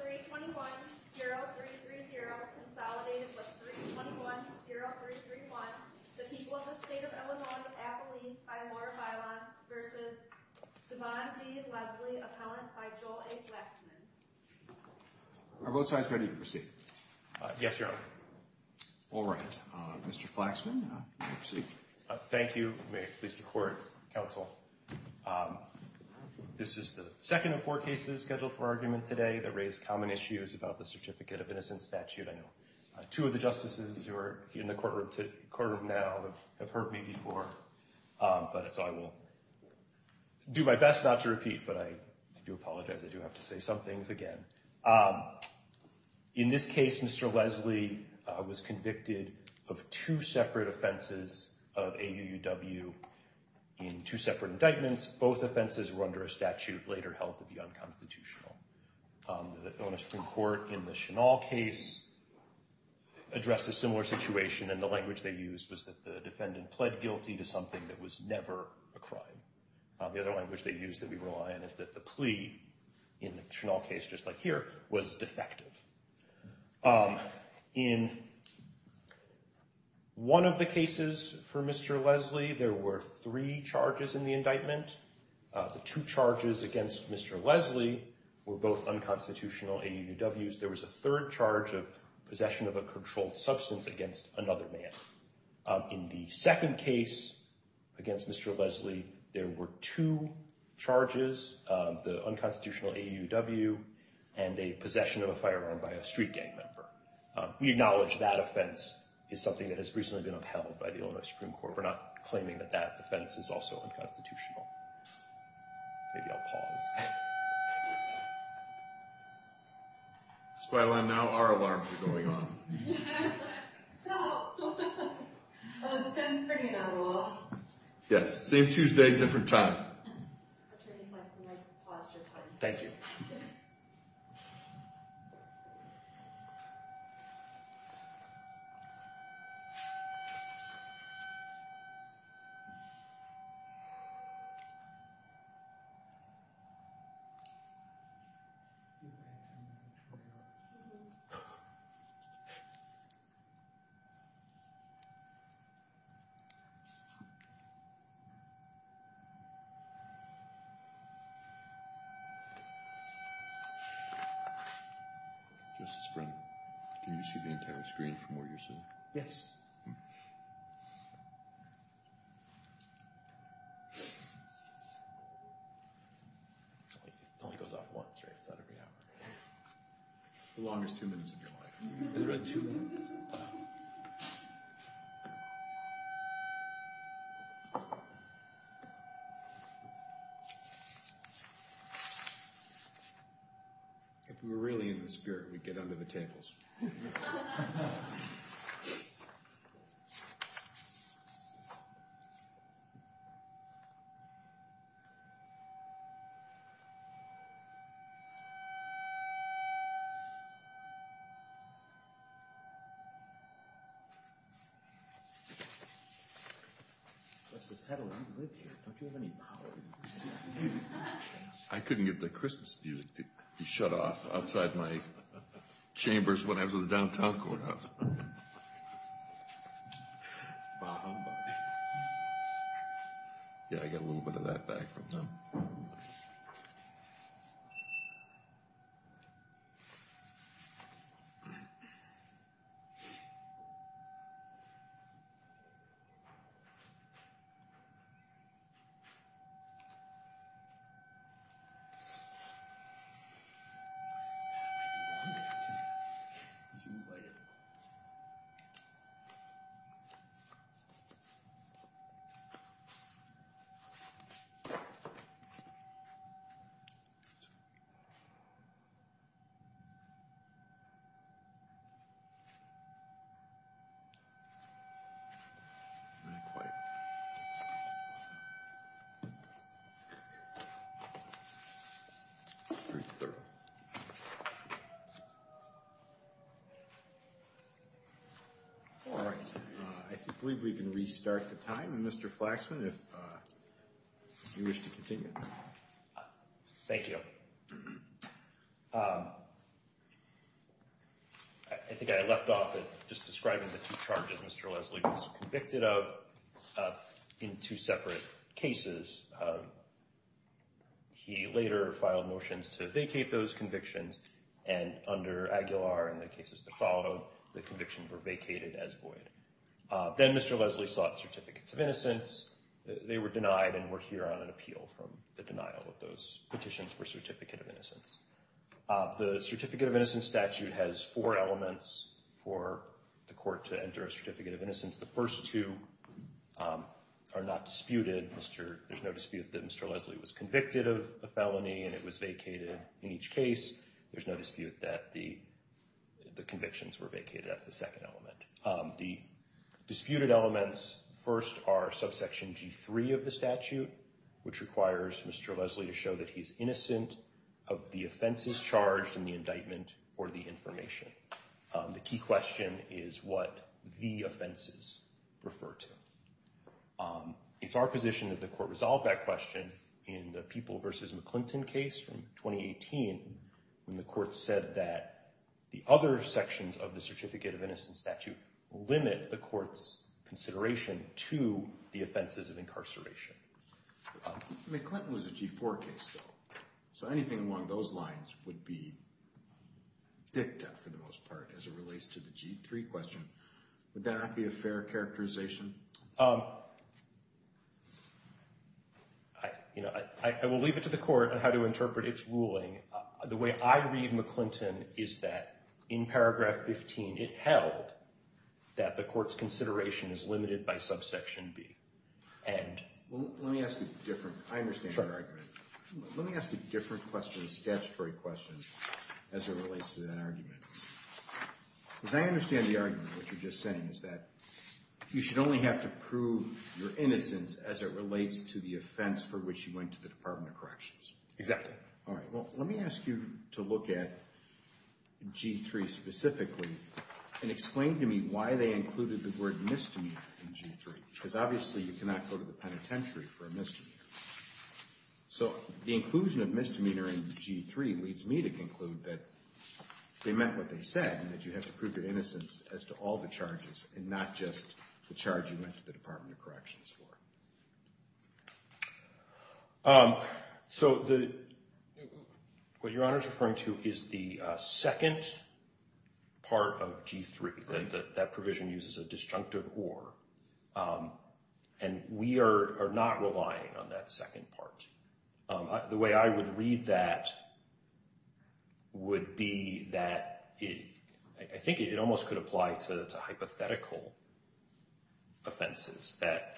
321-0330 Consolidated with 321-0331 The People of the State of Illinois Appellee by Laura Bailon v. Devon D. Lesley Appellant by Joel A. Flaxman Are both sides ready to proceed? Yes, Your Honor. All rise. Mr. Flaxman, you may proceed. Thank you. May it please the Court, Counsel. This is the second of four cases scheduled for argument today that raise common issues about the Certificate of Innocence statute. I know two of the justices who are in the courtroom now have heard me before, so I will do my best not to repeat, but I do apologize. I do have to say some things again. In this case, Mr. Lesley was convicted of two separate offenses of AUUW in two separate indictments. Both offenses were under a statute later held to be unconstitutional. The Illinois Supreme Court in the Chenal case addressed a similar situation, and the language they used was that the defendant pled guilty to something that was never a crime. The other language they used that we rely on is that the plea in the Chenal case, just like here, was defective. In one of the cases for Mr. Lesley, there were three charges in the indictment. The two charges against Mr. Lesley were both unconstitutional AUUWs. There was a third charge of possession of a controlled substance against another man. In the second case against Mr. Lesley, there were two charges, the unconstitutional AUUW and a possession of a firearm by a street gang member. We acknowledge that offense is something that has recently been upheld by the Illinois Supreme Court. We're not claiming that that offense is also unconstitutional. Maybe I'll pause. That's why now our alarms are going off. Yes, same Tuesday, different time. Thank you. Justice Brennan, can you see the entire screen from where you're sitting? Yes. It only goes off once, right? It's not every hour. It's the longest two minutes of your life. It's really two minutes. If we were really in the spirit, we'd get under the tables. I couldn't get the Christmas music to shut off outside my chambers when I was in the downtown corner. Yeah, I got a little bit of that back from them. All right. I believe we can restart the time. Mr. Flaxman, if you wish to continue. Thank you. I think I left off just describing the two charges Mr. Leslie was convicted of in two separate cases. He later filed motions to vacate those convictions. And under Aguilar and the cases that followed, the convictions were vacated as void. Then Mr. Leslie sought certificates of innocence. They were denied and we're here on an appeal from the denial of those petitions for certificate of innocence. The certificate of innocence statute has four elements for the court to enter a certificate of innocence. The first two are not disputed. There's no dispute that Mr. Leslie was convicted of a felony and it was vacated in each case. There's no dispute that the convictions were vacated. That's the second element. The disputed elements first are subsection G3 of the statute, which requires Mr. Leslie to show that he's innocent of the offenses charged in the indictment or the information. The key question is what the offenses refer to. It's our position that the court resolve that question in the People v. McClinton case from 2018 when the court said that the other sections of the certificate of innocence statute limit the court's consideration to the offenses of incarceration. McClinton was a G4 case though, so anything along those lines would be dicta for the most part as it relates to the G3 question. Would that not be a fair characterization? I will leave it to the court on how to interpret its ruling. The way I read McClinton is that in paragraph 15 it held that the court's consideration is limited by subsection B. Let me ask a different question, a statutory question as it relates to that argument. As I understand the argument, what you're just saying is that you should only have to prove your innocence as it relates to the offense for which you went to the Department of Corrections. Exactly. All right. Well, let me ask you to look at G3 specifically and explain to me why they included the word misdemeanor in G3 because obviously you cannot go to the penitentiary for a misdemeanor. So the inclusion of misdemeanor in G3 leads me to conclude that they meant what they said and that you have to prove your innocence as to all the charges and not just the charge you went to the Department of Corrections for. So what Your Honor is referring to is the second part of G3. That provision uses a disjunctive or, and we are not relying on that second part. The way I would read that would be that I think it almost could apply to hypothetical offenses that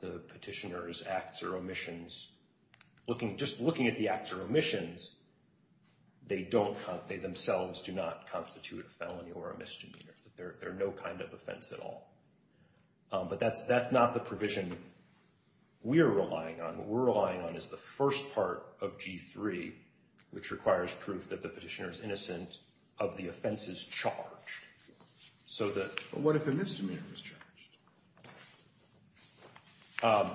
the petitioner's acts or omissions, just looking at the acts or omissions, they themselves do not constitute a felony or a misdemeanor. They're no kind of offense at all. But that's not the provision we're relying on. What we're relying on is the first part of G3, which requires proof that the petitioner is innocent, of the offenses charged. But what if a misdemeanor is charged?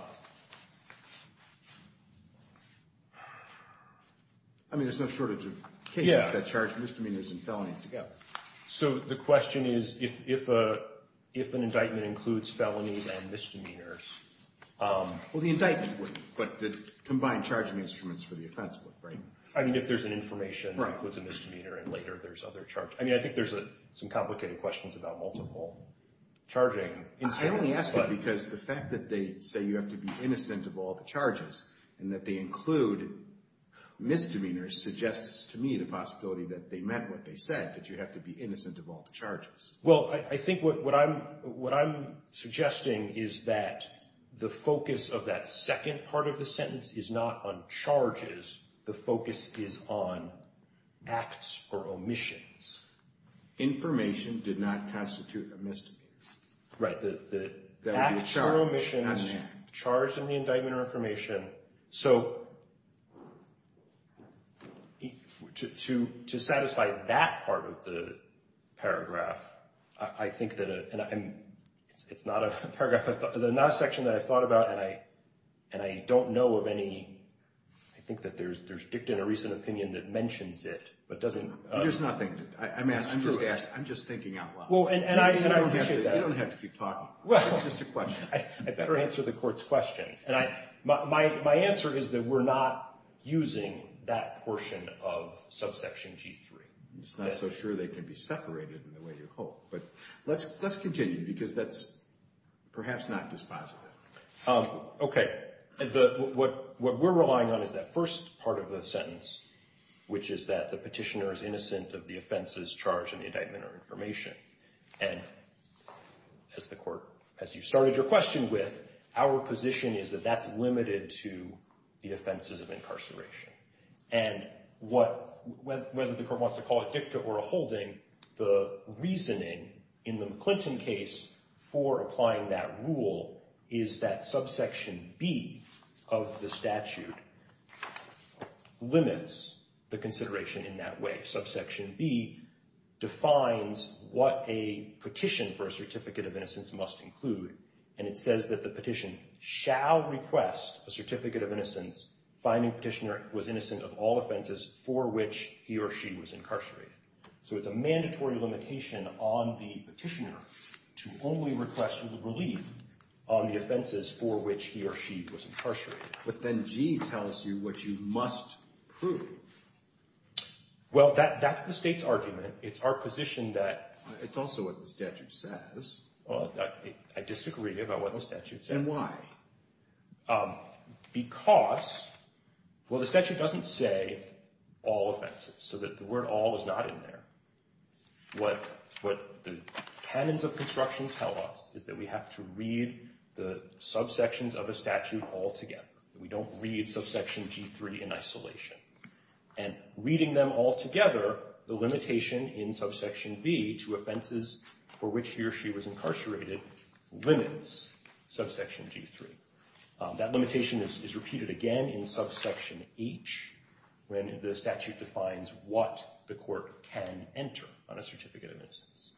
I mean, there's no shortage of cases that charge misdemeanors and felonies together. So the question is if an indictment includes felonies and misdemeanors. Well, the indictment would, but the combined charging instruments for the offense would, right? I mean, if there's an information that includes a misdemeanor and later there's other charges. I mean, I think there's some complicated questions about multiple charging instruments. I only ask that because the fact that they say you have to be innocent of all the charges and that they include misdemeanors suggests to me the possibility that they meant what they said, that you have to be innocent of all the charges. Well, I think what I'm suggesting is that the focus of that second part of the sentence is not on charges. The focus is on acts or omissions. Information did not constitute a misdemeanor. Right, the acts or omissions charged in the indictment or information. So to satisfy that part of the paragraph, I think that it's not a paragraph, but the last section that I thought about and I don't know of any, I think that there's dicta in a recent opinion that mentions it, but doesn't. There's nothing. I'm just thinking out loud. And I appreciate that. You don't have to keep talking. It's just a question. I better answer the court's questions. And my answer is that we're not using that portion of subsection G3. I'm just not so sure they can be separated in the way you hope. But let's continue because that's perhaps not dispositive. Okay. What we're relying on is that first part of the sentence, which is that the petitioner is innocent of the offenses charged in the indictment or information. And as the court, as you started your question with, our position is that that's limited to the offenses of incarceration. And whether the court wants to call it dicta or a holding, the reasoning in the McClinton case for applying that rule is that subsection B of the statute limits the consideration in that way. Subsection B defines what a petition for a certificate of innocence must include. And it says that the petition shall request a certificate of innocence, finding petitioner was innocent of all offenses for which he or she was incarcerated. So it's a mandatory limitation on the petitioner to only request relief on the offenses for which he or she was incarcerated. But then G tells you what you must prove. Well, that's the state's argument. It's our position that. It's also what the statute says. I disagree about what the statute says. And why? Because, well, the statute doesn't say all offenses so that the word all is not in there. What the canons of construction tell us is that we have to read the subsections of a statute all together. We don't read subsection G3 in isolation. And reading them all together, the limitation in subsection B to offenses for which he or she was incarcerated limits subsection G3. That limitation is repeated again in subsection H when the statute defines what the court can enter on a certificate of innocence.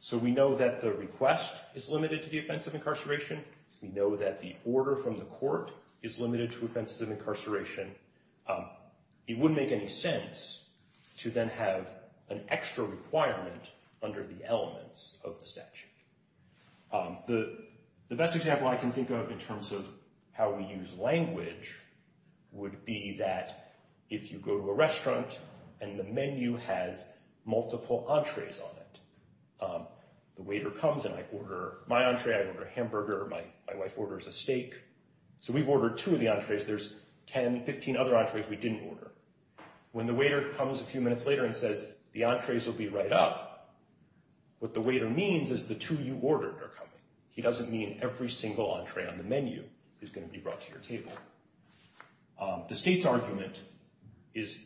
So we know that the request is limited to the offense of incarceration. We know that the order from the court is limited to offenses of incarceration. It wouldn't make any sense to then have an extra requirement under the elements of the statute. The best example I can think of in terms of how we use language would be that if you go to a restaurant and the menu has multiple entrees on it, the waiter comes and I order my entree, I order a hamburger, my wife orders a steak. So we've ordered two of the entrees. There's 10, 15 other entrees we didn't order. When the waiter comes a few minutes later and says the entrees will be right up, what the waiter means is the two you ordered are coming. He doesn't mean every single entree on the menu is going to be brought to your table. The state's argument is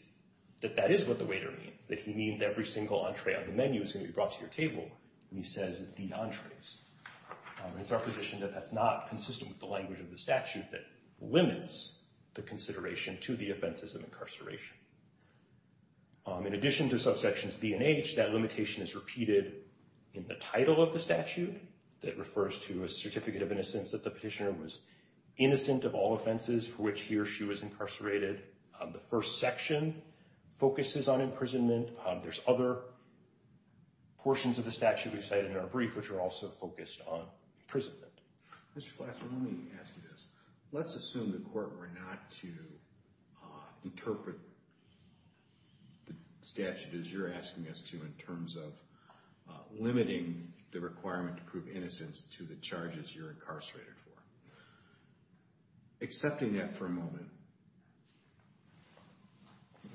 that that is what the waiter means, that he means every single entree on the menu is going to be brought to your table, and he says the entrees. It's our position that that's not consistent with the language of the statute that limits the consideration to the offenses of incarceration. In addition to subsections B and H, that limitation is repeated in the title of the statute that refers to a certificate of innocence that the petitioner was innocent of all offenses for which he or she was incarcerated. The first section focuses on imprisonment. There's other portions of the statute we've cited in our brief which are also focused on imprisonment. Mr. Flaxman, let me ask you this. Let's assume the court were not to interpret the statute as you're asking us to in terms of limiting the requirement to prove innocence to the charges you're incarcerated for. Accepting that for a moment,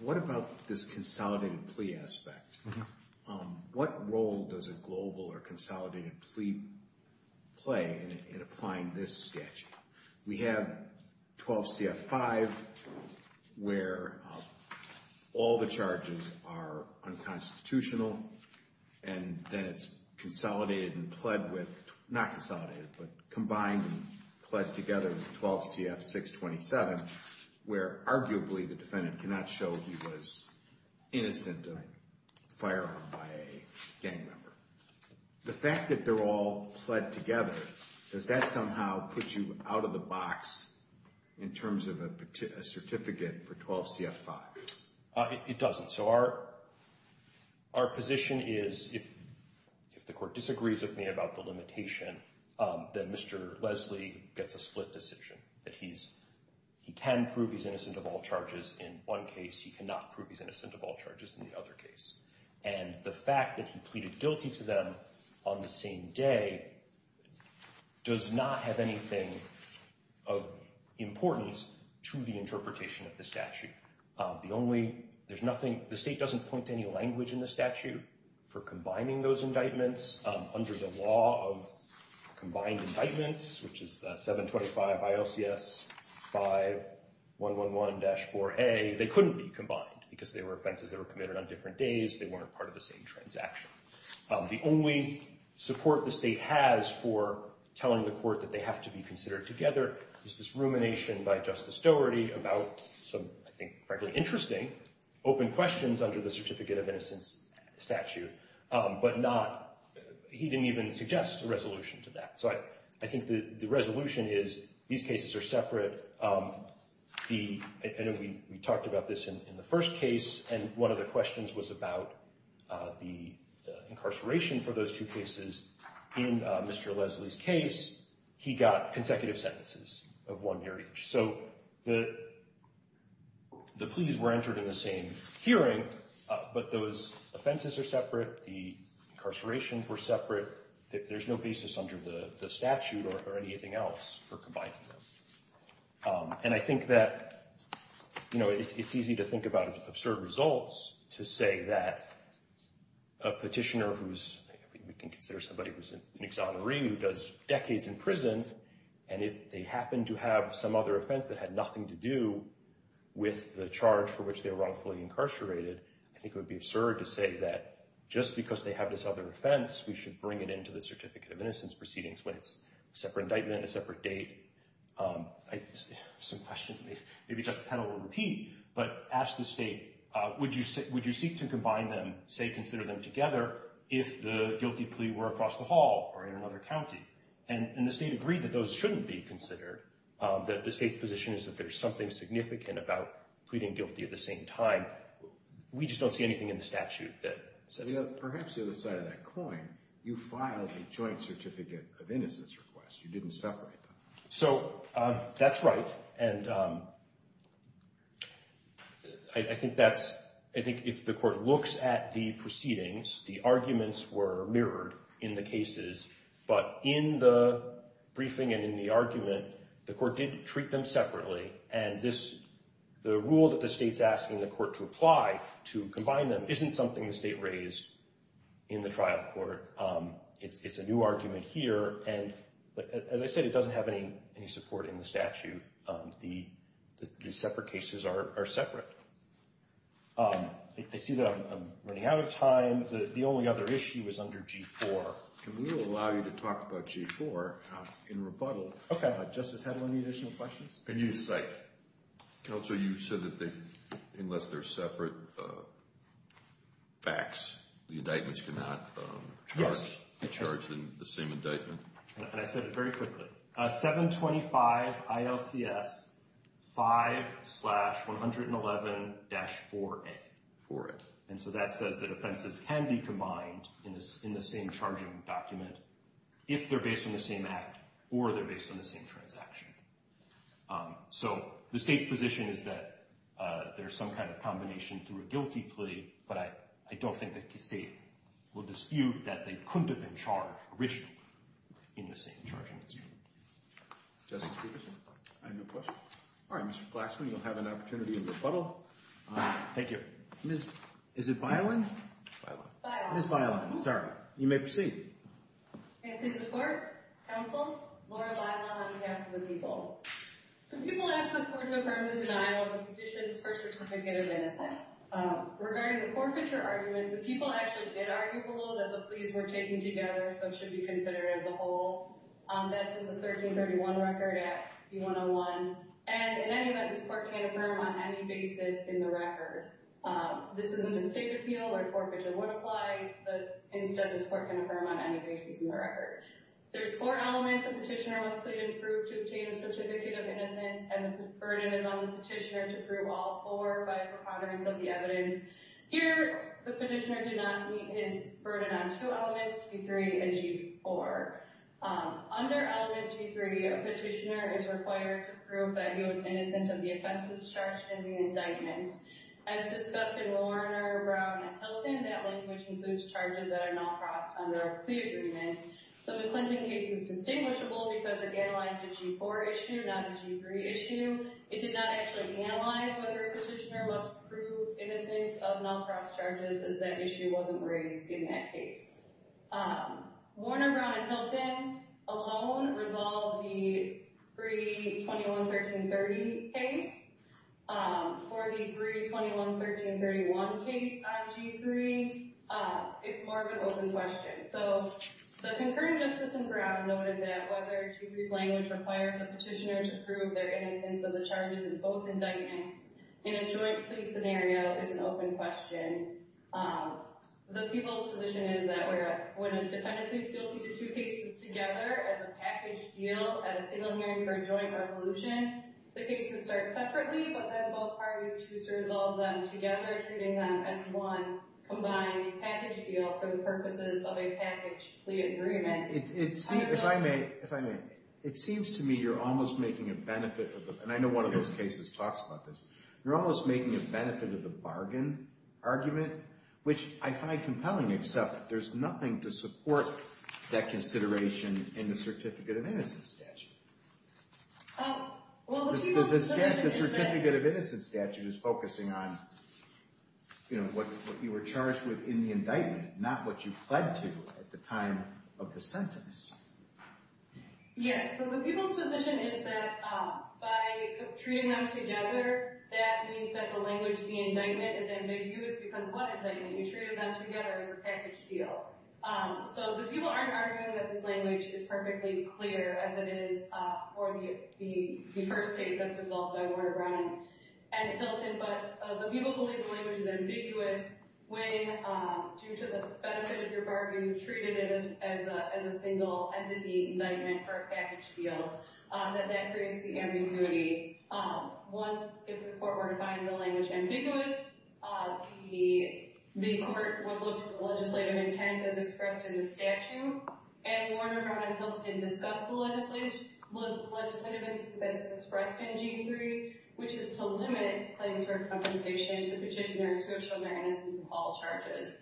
what about this consolidated plea aspect? What role does a global or consolidated plea play in applying this statute? We have 12 CF 5 where all the charges are unconstitutional, and then it's consolidated and pled with, not consolidated, but combined and pled together in 12 CF 627 where arguably the defendant cannot show he was innocent of firearm by a gang member. The fact that they're all pled together, does that somehow put you out of the box in terms of a certificate for 12 CF 5? It doesn't. Our position is if the court disagrees with me about the limitation, then Mr. Leslie gets a split decision. He can prove he's innocent of all charges in one case. He cannot prove he's innocent of all charges in the other case. And the fact that he pleaded guilty to them on the same day does not have anything of importance to the interpretation of the statute. The only, there's nothing, the state doesn't point to any language in the statute for combining those indictments under the law of combined indictments, which is 725 ILCS 5111-4A. They couldn't be combined because they were offenses that were committed on different days. They weren't part of the same transaction. The only support the state has for telling the court that they have to be considered together is this rumination by Justice Doherty about some, I think, frankly interesting open questions under the certificate of innocence statute, but not, he didn't even suggest a resolution to that. So I think the resolution is these cases are separate. We talked about this in the first case, and one of the questions was about the incarceration for those two cases. In Mr. Leslie's case, he got consecutive sentences of one year each. So the pleas were entered in the same hearing, but those offenses are separate. The incarcerations were separate. There's no basis under the statute or anything else for combining them. And I think that, you know, it's easy to think about absurd results to say that a petitioner who's, we can consider somebody who's an exoneree who does decades in prison, and if they happen to have some other offense that had nothing to do with the charge for which they were wrongfully incarcerated, I think it would be absurd to say that just because they have this other offense, we should bring it into the certificate of innocence proceedings when it's a separate indictment, a separate date. I have some questions. Maybe Justice Hennel will repeat, but ask the state, would you seek to combine them, say, consider them together if the guilty plea were across the hall or in another county? And the state agreed that those shouldn't be considered, that the state's position is that there's something significant about pleading guilty at the same time. We just don't see anything in the statute that says that. Perhaps the other side of that coin, you filed a joint certificate of innocence request. You didn't separate them. So that's right. And I think that's, I think if the court looks at the proceedings, the arguments were mirrored in the cases, but in the briefing and in the argument, the court did treat them separately. And this, the rule that the state's asking the court to apply to combine them isn't something the state raised in the trial court. It's a new argument here. And as I said, it doesn't have any support in the statute. The separate cases are separate. I see that I'm running out of time. The only other issue is under G-4. Can we allow you to talk about G-4 in rebuttal? Okay. Does the panel have any additional questions? Can you cite? Counsel, you said that unless they're separate facts, the indictments cannot be charged in the same indictment? And I said it very quickly. 725 ILCS 5-111-4A. 4A. And so that says that offenses can be combined in the same charging document if they're based on the same act or they're based on the same transaction. So the state's position is that there's some kind of combination through a guilty plea, but I don't think that the state will dispute that they couldn't have been charged originally in the same charging document. Justice Peterson? I have no questions. All right. Mr. Flaxman, you'll have an opportunity in rebuttal. Thank you. Is it Byland? Byland. Ms. Byland. Sorry. You may proceed. Thank you, Mr. Court. Counsel, Laura Byland on behalf of the people. The people ask this Court to affirm the denial of the petitions for certificate of innocence. Regarding the forfeiture argument, the people actually did argue below that the pleas were taken together so it should be considered as a whole. That's in the 1331 Record Act, D-101. And in any event, this Court can't affirm on any basis in the record. This is a mistake appeal where forfeiture would apply, but instead this Court can't affirm on any basis in the record. There's four elements a petitioner must plead and prove to obtain a certificate of innocence, and the burden is on the petitioner to prove all four by preponderance of the evidence. Here, the petitioner did not meet his burden on two elements, P3 and G4. Under element P3, a petitioner is required to prove that he was innocent of the offenses charged in the indictment. As discussed in Warner, Brown, and Hilton, that language includes charges that are not crossed under a plea agreement. The McClinton case is distinguishable because it analyzed a G4 issue, not a G3 issue. It did not actually analyze whether a petitioner must prove innocence of not cross charges, as that issue wasn't raised in that case. Warner, Brown, and Hilton alone resolve the pre-21, 13, and 30 case. For the pre-21, 13, and 31 case on G3, it's more of an open question. So the concurring justice in Brown noted that whether G3's language requires a petitioner to prove their innocence of the charges in both indictments in a joint plea scenario is an open question. The people's position is that when a defendant pleads guilty to two cases together as a package deal at a single hearing for a joint resolution, the cases start separately, but then both parties choose to resolve them together, treating them as one combined package deal for the purposes of a package plea agreement. If I may, it seems to me you're almost making a benefit, and I know one of those cases talks about this, you're almost making a benefit of the bargain argument, which I find compelling, except there's nothing to support that consideration in the Certificate of Innocence statute. The Certificate of Innocence statute is focusing on what you were charged with in the indictment, not what you pled to at the time of the sentence. Yes, so the people's position is that by treating them together, that means that the language of the indictment is ambiguous because what indictment? You treated them together as a package deal. So the people aren't arguing that this language is perfectly clear as it is for the first case that's resolved by Warner Brown and Hilton, but the people believe the language is ambiguous when, due to the benefit of your bargain, you treated it as a single entity indictment for a package deal, that that creates the ambiguity. One, if the court were to find the language ambiguous, the court would look for the legislative intent as expressed in the statute, and Warner Brown and Hilton discuss the legislative intent as expressed in Gene III, which is to limit claims for compensation to petitioners who have shown their innocence in all charges.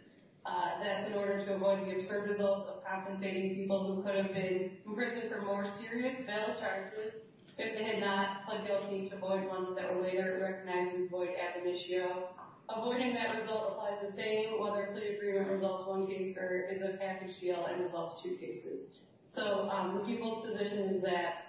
That's in order to avoid the absurd result of compensating people who could have been arrested for more serious felon charges if they had not pled guilty to avoid ones that were later recognized as void ad monitio. Avoiding that result applies the same whether a plea agreement resolves one case or is a package deal and resolves two cases. So the people's position is that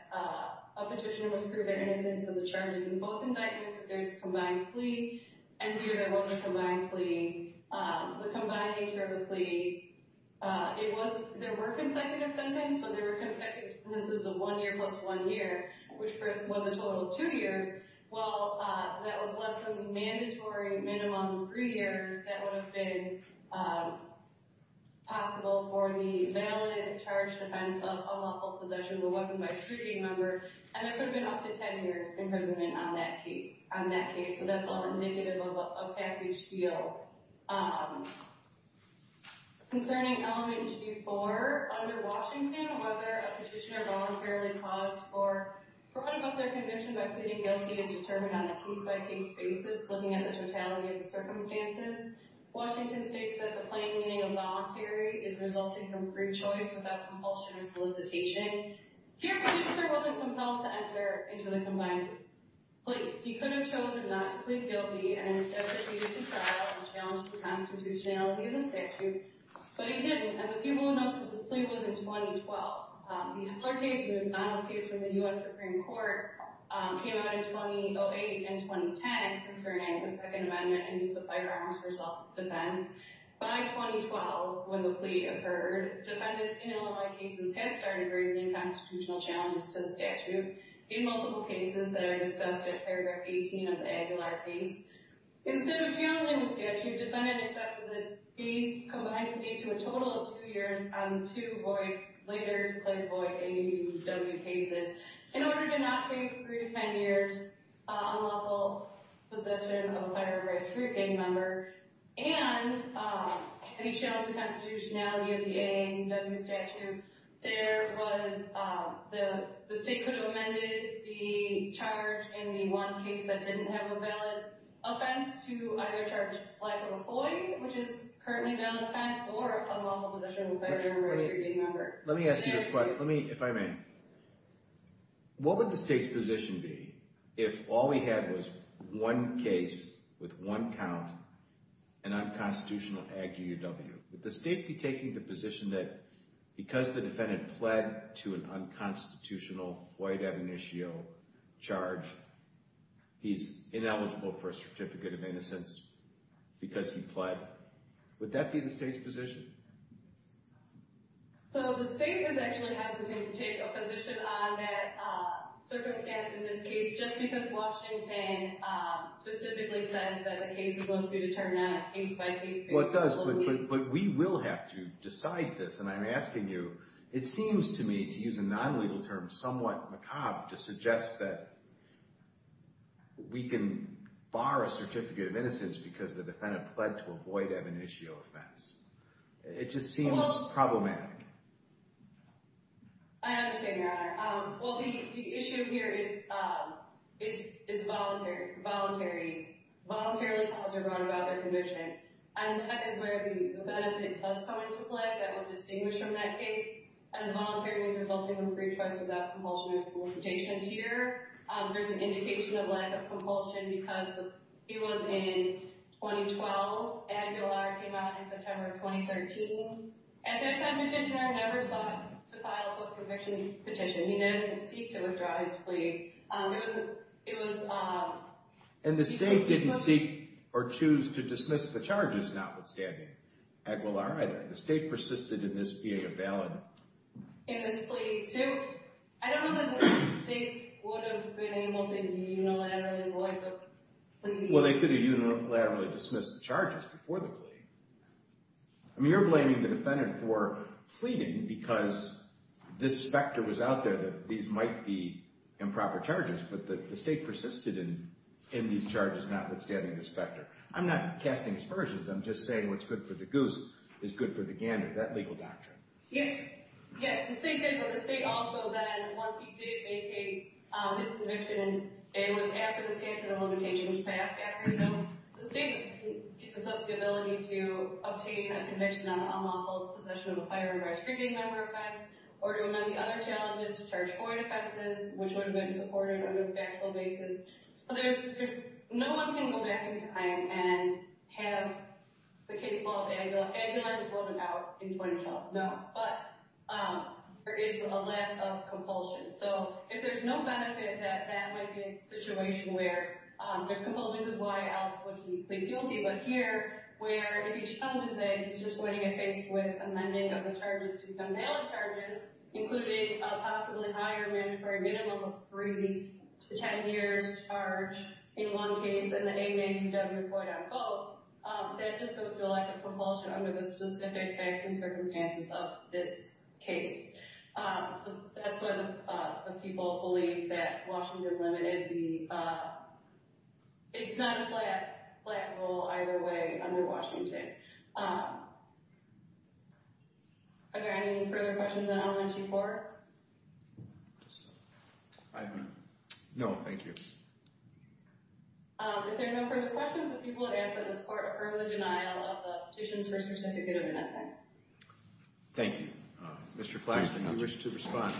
a petitioner must prove their innocence in the charges in both indictments if there's a combined plea. And here there was a combined plea. The combined nature of the plea, it was, there were consecutive sentences, but there were consecutive sentences of one year plus one year, which was a total of two years. Well, that was less than the mandatory minimum three years that would have been possible for the valid, charged offense of unlawful possession of a weapon by a security member. And that could have been up to 10 years imprisonment on that case. So that's all indicative of a package deal. Concerning element 4, under Washington, whether a petitioner voluntarily caused for, or put above their conviction by pleading guilty is determined on a case-by-case basis, looking at the totality of the circumstances. Washington states that the plain meaning of voluntary is resulting from free choice without compulsion or solicitation. Here, the petitioner wasn't compelled to enter into the combined plea. He could have chosen not to plead guilty and instead proceeded to trial and challenge the constitutionality of the statute, but he didn't, and the people know that this plea was in 2012. The Flaherty case was not a case from the U.S. Supreme Court, came out in 2008 and 2010, concerning the Second Amendment and use of firearms for self-defense. By 2012, when the plea occurred, defendants in Illinois cases had started raising constitutional challenges to the statute. In multiple cases that are discussed at paragraph 18 of the Aguilar piece, instead of channeling the statute, defendants accepted the plea combined plea to a total of two years on two void, later declared void, AAUW cases in order to not face three to 10 years unlawful possession of a firearm by a Supreme Court gang member. And he challenged the constitutionality of the AAUW statute. There was, the state could have amended the charge in the one case that didn't have a valid offense to either charge life of a void, which is currently a valid offense or unlawful possession of a firearm by a Supreme Court gang member. Let me ask you this question, if I may. What would the state's position be if all we had was one case with one count and unconstitutional AAUW? Would the state be taking the position that because the defendant pled to an unconstitutional void ab initio charge, he's ineligible for a certificate of innocence because he pled? Would that be the state's position? So the state would actually have to take a position on that circumstance in this case, just because Washington specifically says that the case is supposed to be determined on a case-by-case basis. Well, it does, but we will have to decide this. And I'm asking you, it seems to me to use a non-legal term, somewhat macabre, to suggest that we can bar a certificate of innocence because the defendant pled to a void ab initio offense. It just seems problematic. I understand your honor. Well, the issue here is voluntary. Voluntarily files are brought about their conviction. And that is where the benefit does come into play. That would distinguish from that case. As voluntary means resulting in free choice without compulsion of solicitation here. There's an indication of lack of compulsion because he was in 2012. Aguilar came out in September of 2013. At that time, Petitioner never sought to file a post-conviction petition. He never did seek to withdraw his plea. It was— And the state didn't seek or choose to dismiss the charges, notwithstanding Aguilar either. The state persisted in this being a valid— In this plea, too. I don't know that the state would have been able to unilaterally void the plea. I mean, you're blaming the defendant for pleading because this specter was out there that these might be improper charges. But the state persisted in these charges, notwithstanding the specter. I'm not casting aspersions. I'm just saying what's good for the goose is good for the gander. That legal doctrine. Yes. Yes. The state did, but the state also then, once he did make his conviction, and it was after the statute of limitations passed after, the state gives up the ability to obtain a conviction on the unlawful possession of a firearm by a street gang member of facts or to amend the other challenges to charge for it offenses, which would have been supported on a factual basis. So there's— No one can go back in time and have the case filed. Aguilar was voted out in 2012. No. But there is a lack of compulsion. So if there's no benefit, that might be a situation where there's compulsion because why else would he plead guilty? But here, where if he becomes a state, he's just going to get faced with amending of the charges to become valid charges, including a possibly higher mandatory minimum of three to ten years' charge in one case, and the ADA doesn't quite outvote. That just goes to a lack of compulsion under the specific facts and circumstances of this case. So that's why the people believe that Washington limited the—it's not a flat rule either way under Washington. Are there any further questions on elementary courts? No, thank you. If there are no further questions, the people have asked that this court affirm the denial of the Petitions for Certificate of Innocence. Thank you. Mr. Claxton, do you wish to respond?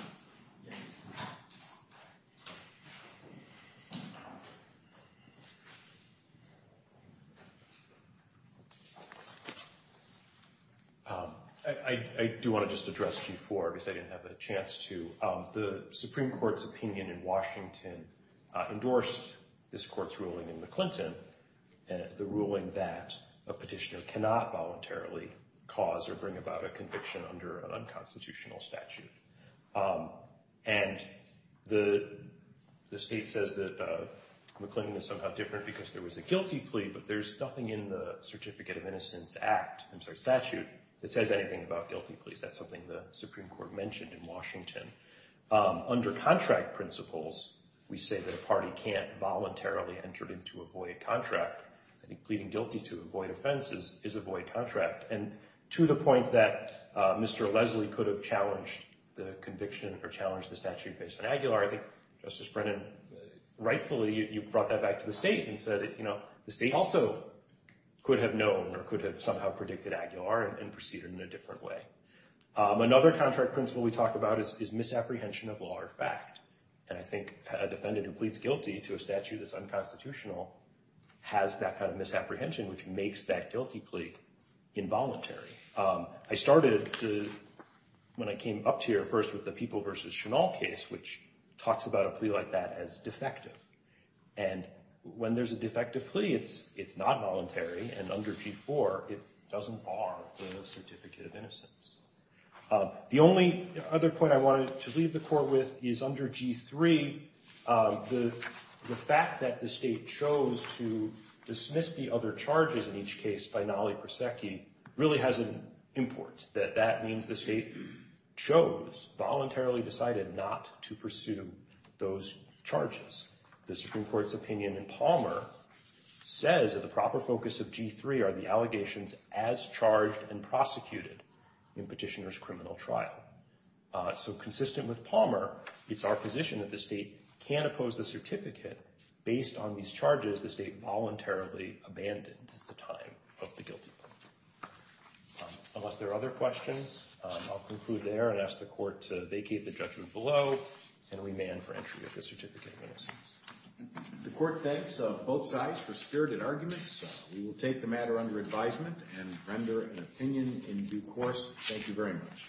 I do want to just address G-4 because I didn't have a chance to. The Supreme Court's opinion in Washington endorsed this court's ruling in McClinton, the ruling that a petitioner cannot voluntarily cause or bring about a conviction under an unconstitutional statute. And the state says that McClinton is somehow different because there was a guilty plea, but there's nothing in the Certificate of Innocence Act—I'm sorry, statute—that says anything about guilty pleas. That's something the Supreme Court mentioned in Washington. Under contract principles, we say that a party can't voluntarily enter into a void contract. I think pleading guilty to a void offense is a void contract. And to the point that Mr. Leslie could have challenged the conviction or challenged the statute based on Aguilar, I think, Justice Brennan, rightfully, you brought that back to the state and said that, you know, the state also could have known or could have somehow predicted Aguilar and proceeded in a different way. Another contract principle we talk about is misapprehension of law or fact. And I think a defendant who pleads guilty to a statute that's unconstitutional has that kind of misapprehension, which makes that guilty plea involuntary. I started when I came up to here first with the People v. Chennault case, which talks about a plea like that as defective. And when there's a defective plea, it's not voluntary. And under G-4, it doesn't bar the certificate of innocence. The only other point I wanted to leave the court with is under G-3, the fact that the state chose to dismiss the other charges in each case by Nolley-Prosecki really has an import, that that means the state chose, voluntarily decided not to pursue those charges. The Supreme Court's opinion in Palmer says that the proper focus of G-3 are the allegations as charged and prosecuted in petitioner's criminal trial. So consistent with Palmer, it's our position that the state can't oppose the certificate based on these charges the state voluntarily abandoned at the time of the guilty plea. Unless there are other questions, I'll conclude there and ask the court to vacate the judgment below and remand for entry of the certificate of innocence. The court thanks both sides for spirited arguments. We will take the matter under advisement and render an opinion in due course. Thank you very much.